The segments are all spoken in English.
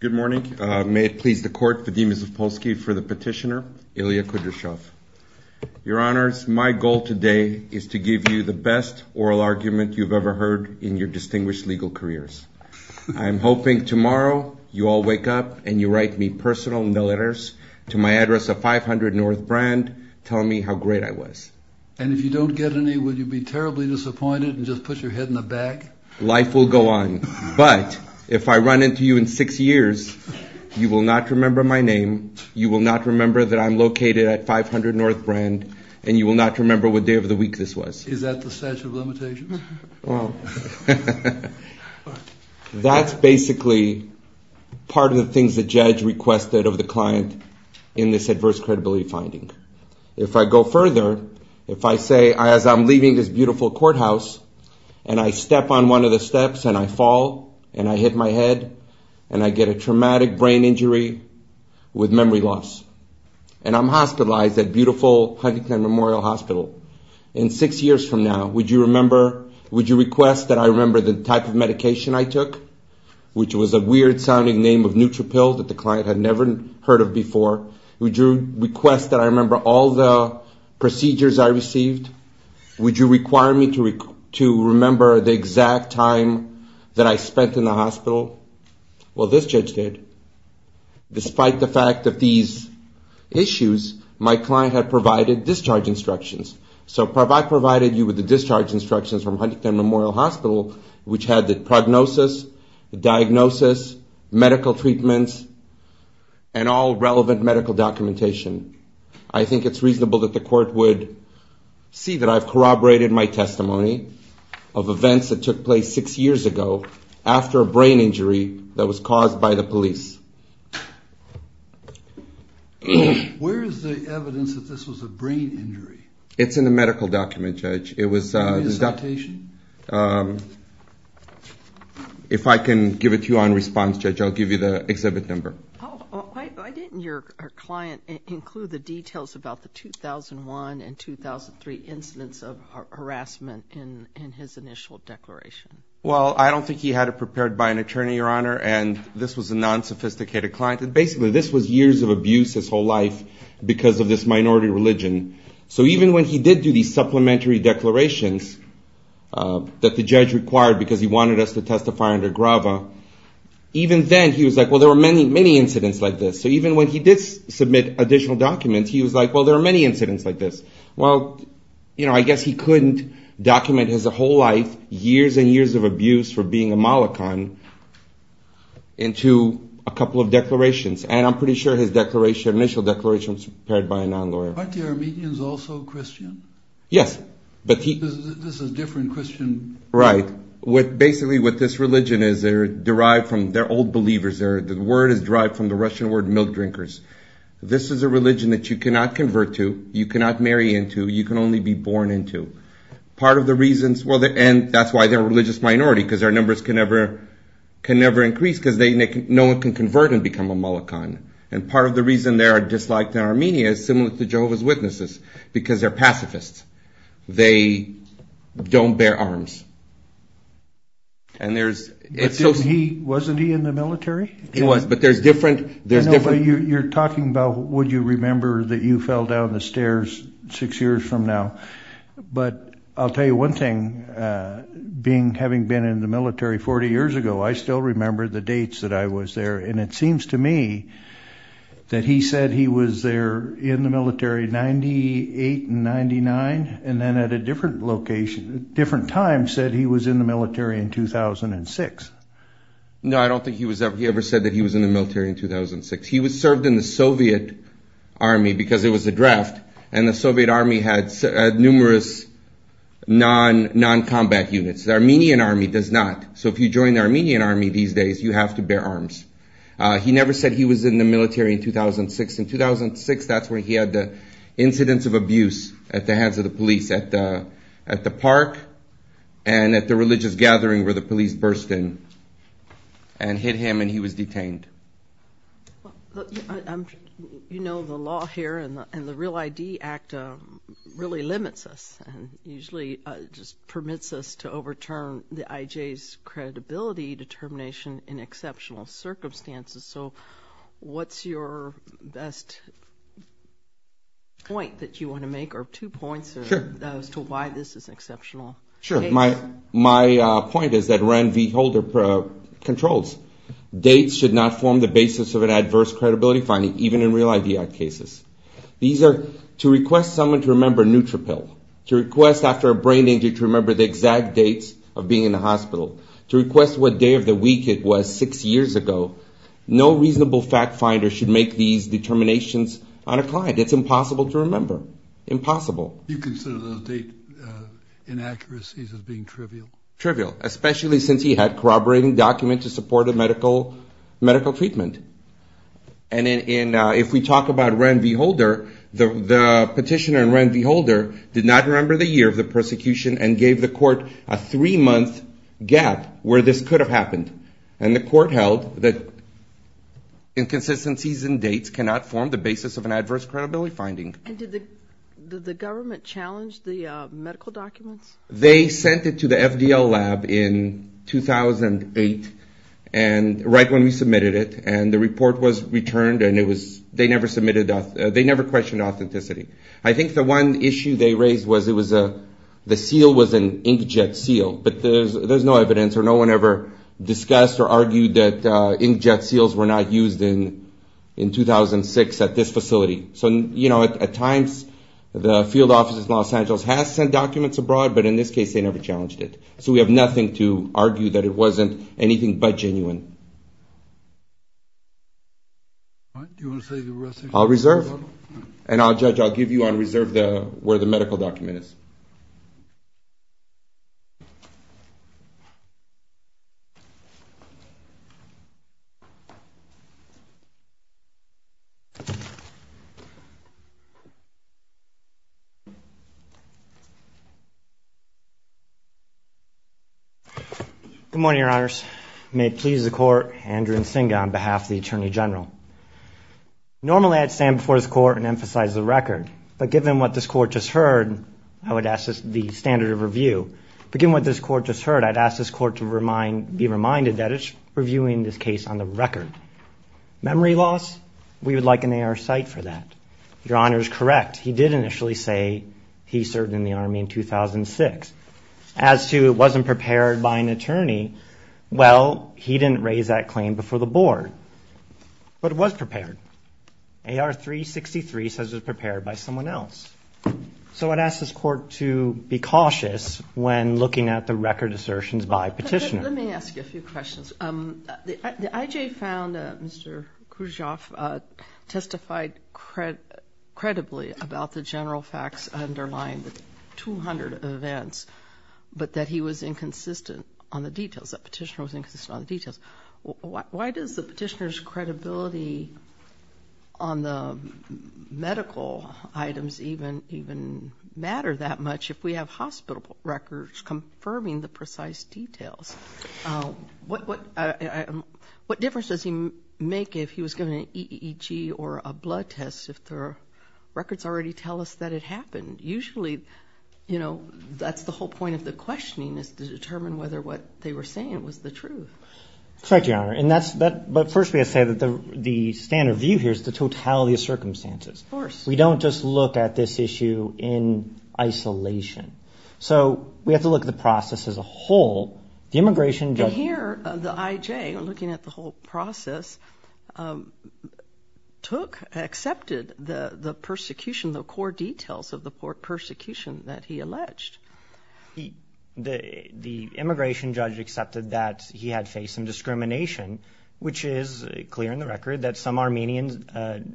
Good morning. May it please the Court, Vadim Zaspolsky for the petitioner, Ilya Kudryashov. Your Honors, my goal today is to give you the best oral argument you've ever heard in your distinguished legal careers. I'm hoping tomorrow you all wake up and you write me personal in the letters to my address of 500 North Brand, tell me how great I was. And if you don't get any, will you be terribly disappointed and just put your head in the bag? Life will go on, but if I run into you in six years, you will not remember my name, you will not remember that I'm located at 500 North Brand, and you will not remember what day of the week this was. Is that the statute of limitations? That's basically part of the things the judge requested of the client in this adverse credibility finding. If I go further, if I say as I'm leaving this beautiful courthouse and I step on one of the steps and I fall and I hit my head, and I get a traumatic brain injury with memory loss, and I'm hospitalized at beautiful Huntington Memorial Hospital, in six years from now, would you request that I remember the type of medication I took, which was a weird sounding name of neutropil that the client had never heard of before? Would you request that I remember all the procedures I received? Would you require me to remember the exact time that I spent in the hospital? Well, this judge did. Despite the fact of these issues, my client had provided discharge instructions. So if I provided you with the discharge instructions from Huntington Memorial Hospital, which had the prognosis, the diagnosis, medical treatments, and all relevant medical documentation, I think it's reasonable that the court would see that I've corroborated my testimony of events that took place six years ago after a brain injury that was caused by the police. Where is the evidence that this was a brain injury? It's in the medical document, Judge. If I can give it to you on response, Judge, I'll give you the exhibit number. Why didn't your client include the details about the 2001 and 2003 incidents of harassment in his initial declaration? Well, I don't think he had it prepared by an attorney, Your Honor, and this was a non-sophisticated client. Basically, this was years of abuse his whole life because of this minority religion. So even when he did do these supplementary declarations that the judge required because he wanted us to testify under grava, even then he was like, well, there were many, many incidents like this. So even when he did submit additional documents, he was like, well, there are many incidents like this. Well, I guess he couldn't document his whole life, years and years of abuse for being a malecon into a couple of declarations. And I'm pretty sure his initial declaration was prepared by a non-lawyer. Aren't the Armenians also Christian? Yes. This is a different Christian. Right. Basically, what this religion is, they're derived from, they're old believers. The word is derived from the Russian word milk drinkers. This is a religion that you cannot convert to, you cannot marry into, you can only be born into. Part of the reasons, well, and that's why they're a religious minority because their numbers can never increase because no one can convert and become a malecon. And part of the reason they are disliked in Armenia is similar to Jehovah's Witnesses because they're pacifists. They don't bear arms. Wasn't he in the military? He was, but there's different. You're talking about would you remember that you fell down the stairs six years from now. But I'll tell you one thing, having been in the military 40 years ago, I still remember the dates that I was there. And it seems to me that he said he was there in the military 98 and 99 and then at a different location, different time, said he was in the military in 2006. No, I don't think he ever said that he was in the military in 2006. He served in the Soviet Army because it was a draft and the Soviet Army had numerous noncombat units. The Armenian Army does not. So if you join the Armenian Army these days, you have to bear arms. He never said he was in the military in 2006. In 2006, that's when he had the incidents of abuse at the hands of the police at the park and at the religious gathering where the police burst in and hit him and he was detained. You know the law here and the Real ID Act really limits us and usually just permits us to overturn the IJ's credibility determination in exceptional circumstances. So what's your best point that you want to make or two points as to why this is exceptional? Sure. My point is that Rand V. Holder controls. Dates should not form the basis of an adverse credibility finding even in Real ID Act cases. These are to request someone to remember Nutrapil, to request after a brain injury to remember the exact dates of being in the hospital, to request what day of the week it was six years ago. No reasonable fact finder should make these determinations on a client. It's impossible to remember. Impossible. You consider those date inaccuracies as being trivial? Trivial, especially since he had corroborating documents to support a medical treatment. And if we talk about Rand V. Holder, the petitioner in Rand V. Holder did not remember the year of the persecution and gave the court a three-month gap where this could have happened. And the court held that inconsistencies in dates cannot form the basis of an adverse credibility finding. And did the government challenge the medical documents? They sent it to the FDL lab in 2008, right when we submitted it, and the report was returned and they never questioned authenticity. I think the one issue they raised was the seal was an inkjet seal, but there's no evidence or no one ever discussed or argued that inkjet seals were not used in 2006 at this facility. So, you know, at times the field offices in Los Angeles have sent documents abroad, but in this case they never challenged it. So we have nothing to argue that it wasn't anything but genuine. Do you want to say the rest? I'll reserve. And I'll judge. I'll give you on reserve where the medical document is. Good morning, Your Honors. May it please the court, Andrew Nsinga on behalf of the Attorney General. Normally I'd stand before this court and emphasize the record, but given what this court just heard, I would ask the standard of review. Given what this court just heard, I'd ask this court to be reminded that it's reviewing this case on the record. Memory loss? We would like an AR cite for that. Your Honor is correct. He did initially say he served in the Army in 2006. As to it wasn't prepared by an attorney, well, he didn't raise that claim before the board. But it was prepared. AR 363 says it was prepared by someone else. So I'd ask this court to be cautious when looking at the record assertions by petitioners. Let me ask you a few questions. The IJ found Mr. Khrushchev testified credibly about the general facts underlying the 200 events, but that he was inconsistent on the details, that the petitioner was inconsistent on the details. Why does the petitioner's credibility on the medical items even matter that much if we have hospital records confirming the precise details? What difference does he make if he was given an EEG or a blood test if the records already tell us that it happened? Usually, you know, that's the whole point of the questioning is to determine whether what they were saying was the truth. Correct, Your Honor. But first we have to say that the standard view here is the totality of circumstances. Of course. We don't just look at this issue in isolation. So we have to look at the process as a whole. Here, the IJ, looking at the whole process, took, accepted the persecution, the core details of the persecution that he alleged. The immigration judge accepted that he had faced some discrimination, which is clear in the record that some Armenians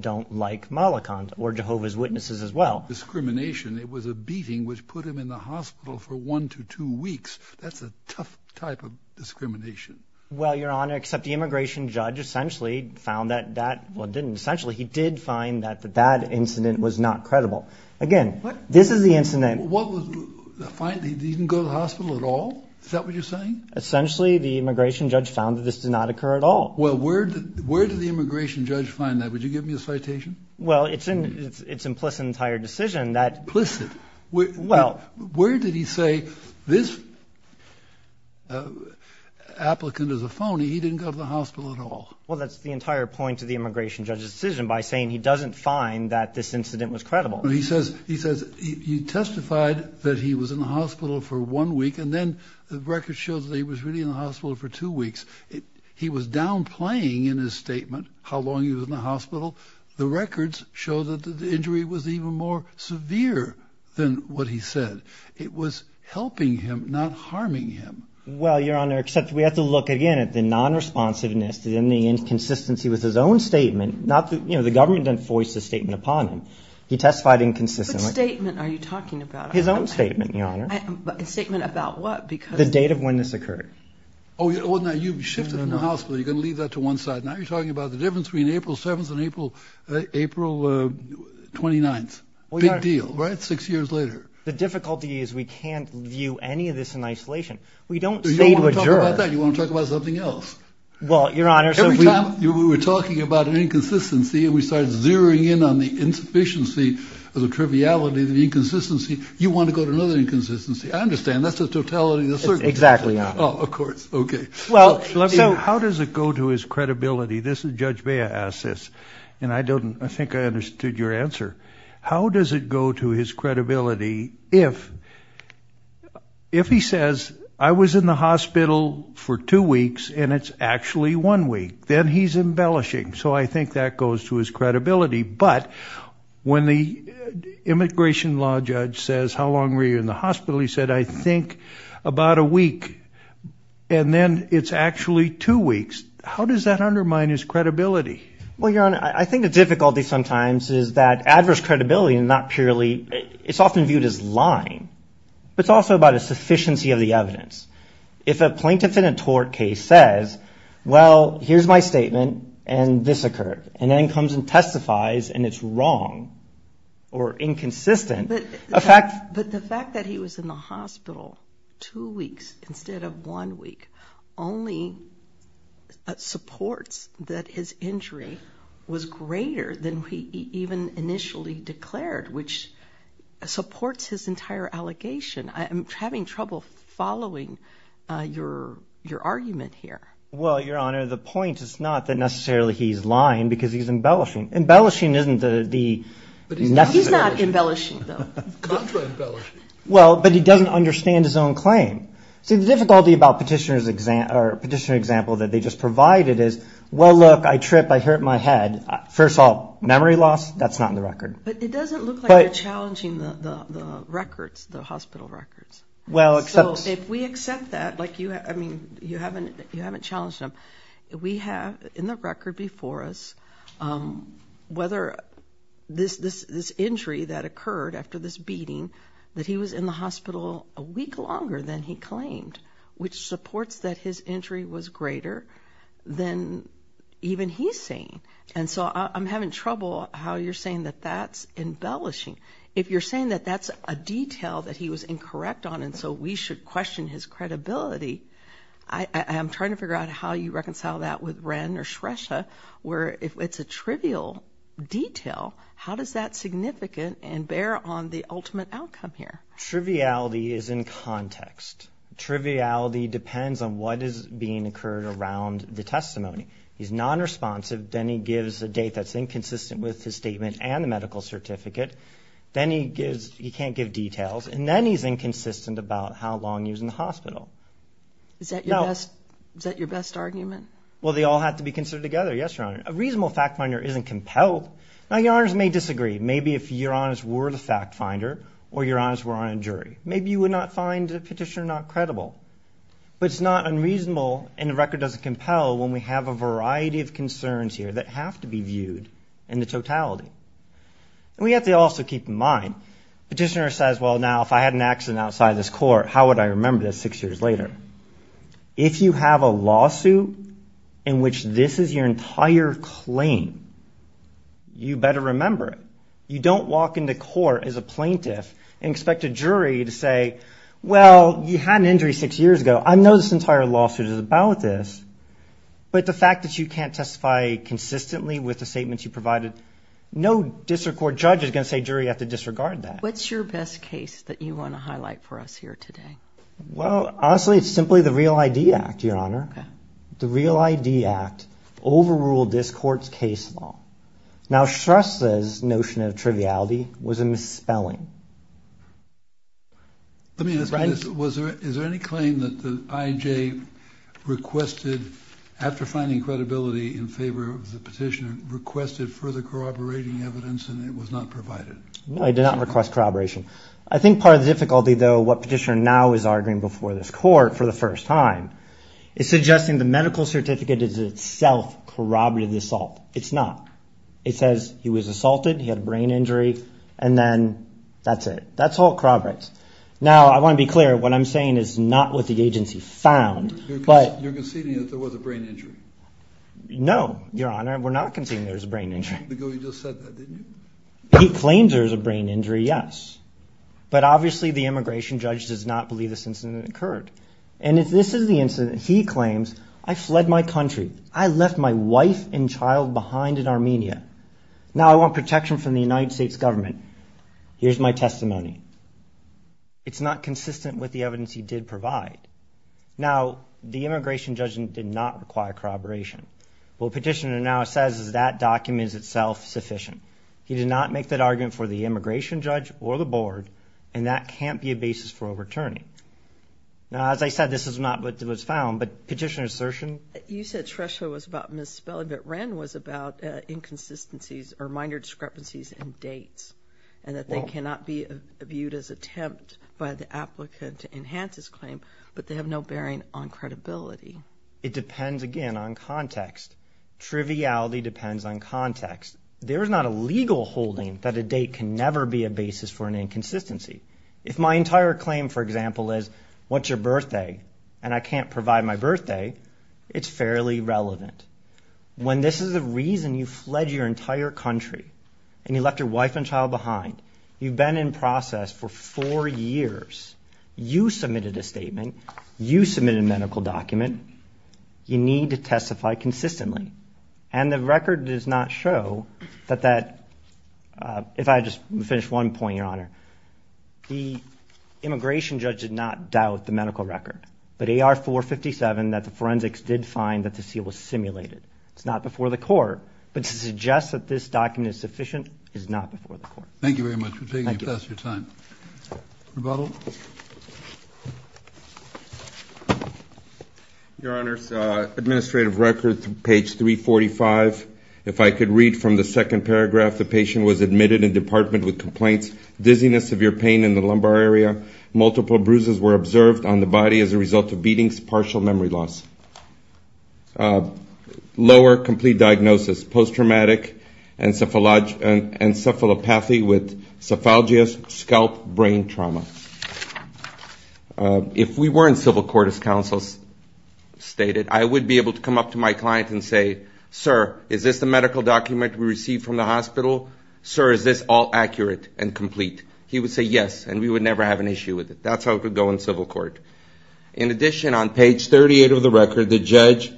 don't like Malakand or Jehovah's Witnesses as well. Discrimination, it was a beating which put him in the hospital for one to two weeks. That's a tough type of discrimination. Well, Your Honor, except the immigration judge essentially found that that didn't. Essentially, he did find that the bad incident was not credible. Again, this is the incident. He didn't go to the hospital at all? Is that what you're saying? Essentially, the immigration judge found that this did not occur at all. Well, where did the immigration judge find that? Would you give me a citation? Well, it's implicit in the entire decision. Implicit? Where did he say this applicant is a phony, he didn't go to the hospital at all? Well, that's the entire point of the immigration judge's decision by saying he doesn't find that this incident was credible. He says you testified that he was in the hospital for one week, and then the record shows that he was really in the hospital for two weeks. He was downplaying in his statement how long he was in the hospital. The records show that the injury was even more severe than what he said. It was helping him, not harming him. Well, Your Honor, except we have to look again at the non-responsiveness and the inconsistency with his own statement. The government didn't voice his statement upon him. He testified inconsistently. What statement are you talking about? His own statement, Your Honor. A statement about what? The date of when this occurred. Oh, now you've shifted from the hospital. You're going to leave that to one side. Now you're talking about the difference between April 7th and April 29th. Big deal, right? Six years later. The difficulty is we can't view any of this in isolation. We don't stay with jurors. You don't want to talk about that. You want to talk about something else. Well, Your Honor, so if we – Every time we were talking about an inconsistency and we started zeroing in on the insufficiency or the triviality of the inconsistency, you want to go to another inconsistency. I understand. That's the totality of the circumstance. Exactly, Your Honor. Oh, of course. Okay. How does it go to his credibility? Judge Bea asked this, and I think I understood your answer. How does it go to his credibility if he says, I was in the hospital for two weeks and it's actually one week? Then he's embellishing. So I think that goes to his credibility. But when the immigration law judge says, How long were you in the hospital? He said, I think about a week. And then it's actually two weeks. How does that undermine his credibility? Well, Your Honor, I think the difficulty sometimes is that adverse credibility is not purely – it's often viewed as lying, but it's also about a sufficiency of the evidence. If a plaintiff in a tort case says, well, here's my statement and this occurred, and then comes and testifies and it's wrong or inconsistent, a fact – I was in the hospital two weeks instead of one week – only supports that his injury was greater than he even initially declared, which supports his entire allegation. I'm having trouble following your argument here. Well, Your Honor, the point is not that necessarily he's lying because he's embellishing. Embellishing isn't the – He's not embellishing, though. Contra-embellishing. Well, but he doesn't understand his own claim. See, the difficulty about petitioner example that they just provided is, well, look, I trip, I hurt my head. First of all, memory loss, that's not in the record. But it doesn't look like you're challenging the records, the hospital records. Well, except – So if we accept that, like you – I mean, you haven't challenged them. We have in the record before us whether this injury that occurred after this beating, that he was in the hospital a week longer than he claimed, which supports that his injury was greater than even he's saying. And so I'm having trouble how you're saying that that's embellishing. If you're saying that that's a detail that he was incorrect on and so we should question his credibility, I am trying to figure out how you reconcile that with Wren or Shresha, where if it's a trivial detail, how does that significant and bear on the ultimate outcome here? Triviality is in context. Triviality depends on what is being occurred around the testimony. He's nonresponsive. Then he gives a date that's inconsistent with his statement and the medical certificate. Then he gives – he can't give details. And then he's inconsistent about how long he was in the hospital. Is that your best argument? Well, they all have to be considered together, yes, Your Honor. A reasonable fact finder isn't compelled. Now, Your Honors may disagree. Maybe if Your Honors were the fact finder or Your Honors were on a jury, maybe you would not find the petitioner not credible. But it's not unreasonable and the record doesn't compel when we have a variety of concerns here that have to be viewed in the totality. And we have to also keep in mind, petitioner says, well, now if I had an accident outside this court, how would I remember this six years later? If you have a lawsuit in which this is your entire claim, you better remember it. You don't walk into court as a plaintiff and expect a jury to say, well, you had an injury six years ago. I know this entire lawsuit is about this. But the fact that you can't testify consistently with the statements you provided, no district court judge is going to say, jury, you have to disregard that. What's your best case that you want to highlight for us here today? Well, honestly, it's simply the Real ID Act, Your Honor. The Real ID Act overruled this court's case law. Now, Shrestha's notion of triviality was a misspelling. Let me ask you this. Is there any claim that the IJ requested, after finding credibility in favor of the petitioner, requested further corroborating evidence and it was not provided? No, it did not request corroboration. I think part of the difficulty, though, what petitioner now is arguing before this court for the first time, is suggesting the medical certificate is itself corroborated assault. It's not. It says he was assaulted, he had a brain injury, and then that's it. That's all it corroborates. Now, I want to be clear, what I'm saying is not what the agency found. You're conceding that there was a brain injury? No, Your Honor. We're not conceding there was a brain injury. Because you just said that, didn't you? He claims there was a brain injury, yes. But obviously the immigration judge does not believe this incident occurred. And if this is the incident he claims, I fled my country, I left my wife and child behind in Armenia, now I want protection from the United States government, here's my testimony. It's not consistent with the evidence he did provide. Now, the immigration judge did not require corroboration. What petitioner now says is that document is itself sufficient. He did not make that argument for the immigration judge or the board, and that can't be a basis for overturning. Now, as I said, this is not what was found, but petitioner's assertion? You said Tresho was about misspelling, but Wren was about inconsistencies or minor discrepancies in dates, and that they cannot be viewed as attempt by the applicant to enhance his claim, but they have no bearing on credibility. It depends, again, on context. Triviality depends on context. There is not a legal holding that a date can never be a basis for an inconsistency. If my entire claim, for example, is what's your birthday, and I can't provide my birthday, it's fairly relevant. When this is the reason you fled your entire country and you left your wife and child behind, you've been in process for four years. You submitted a statement. You submitted a medical document. You need to testify consistently. And the record does not show that that, if I just finish one point, Your Honor, the immigration judge did not doubt the medical record, but AR 457 that the forensics did find that the seal was simulated. It's not before the court, but to suggest that this document is sufficient is not before the court. Thank you very much for taking the test of your time. Rebuttal? Your Honor, administrative record, page 345. If I could read from the second paragraph, the patient was admitted in the department with complaints, dizziness, severe pain in the lumbar area. Multiple bruises were observed on the body as a result of beatings, partial memory loss. Lower complete diagnosis, post-traumatic encephalopathy with cephalgia, scalp, brain trauma. If we were in civil court, as counsel stated, I would be able to come up to my client and say, Sir, is this the medical document we received from the hospital? Sir, is this all accurate and complete? He would say yes, and we would never have an issue with it. That's how it would go in civil court. In addition, on page 38 of the record, the judge,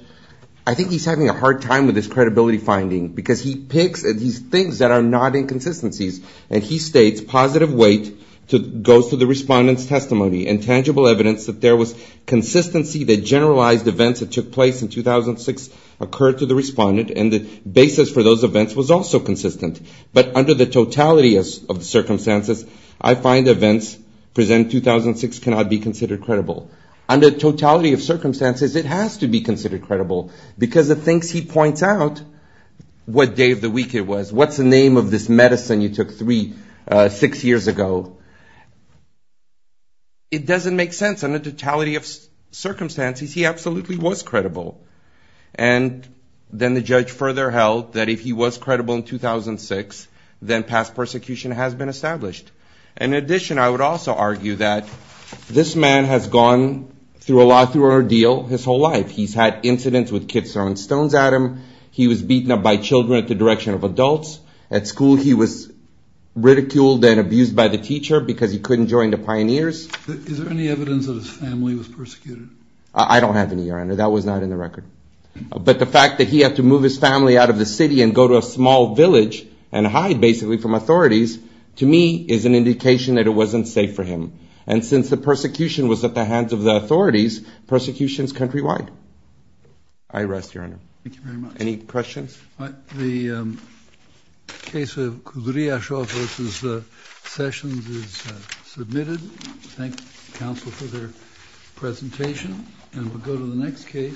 I think he's having a hard time with his credibility finding because he picks these things that are not inconsistencies, and he states positive weight goes to the respondent's testimony and tangible evidence that there was consistency that generalized events that took place in 2006 occurred to the respondent, and the basis for those events was also consistent. But under the totality of the circumstances, I find events present in 2006 cannot be considered credible. Under the totality of circumstances, it has to be considered credible, because it thinks he points out what day of the week it was, what's the name of this medicine you took six years ago. It doesn't make sense. Under the totality of circumstances, he absolutely was credible. And then the judge further held that if he was credible in 2006, then past persecution has been established. In addition, I would also argue that this man has gone through a lot through an ordeal his whole life. He's had incidents with kids throwing stones at him. He was beaten up by children at the direction of adults. At school, he was ridiculed and abused by the teacher because he couldn't join the Pioneers. Is there any evidence that his family was persecuted? I don't have any, Your Honor. That was not in the record. But the fact that he had to move his family out of the city and go to a small village and hide basically from authorities, to me, is an indication that it wasn't safe for him. And since the persecution was at the hands of the authorities, persecution is countrywide. I rest, Your Honor. Thank you very much. Any questions? The case of Kudryashov v. Sessions is submitted. Thank the counsel for their presentation. And we'll go to the next case.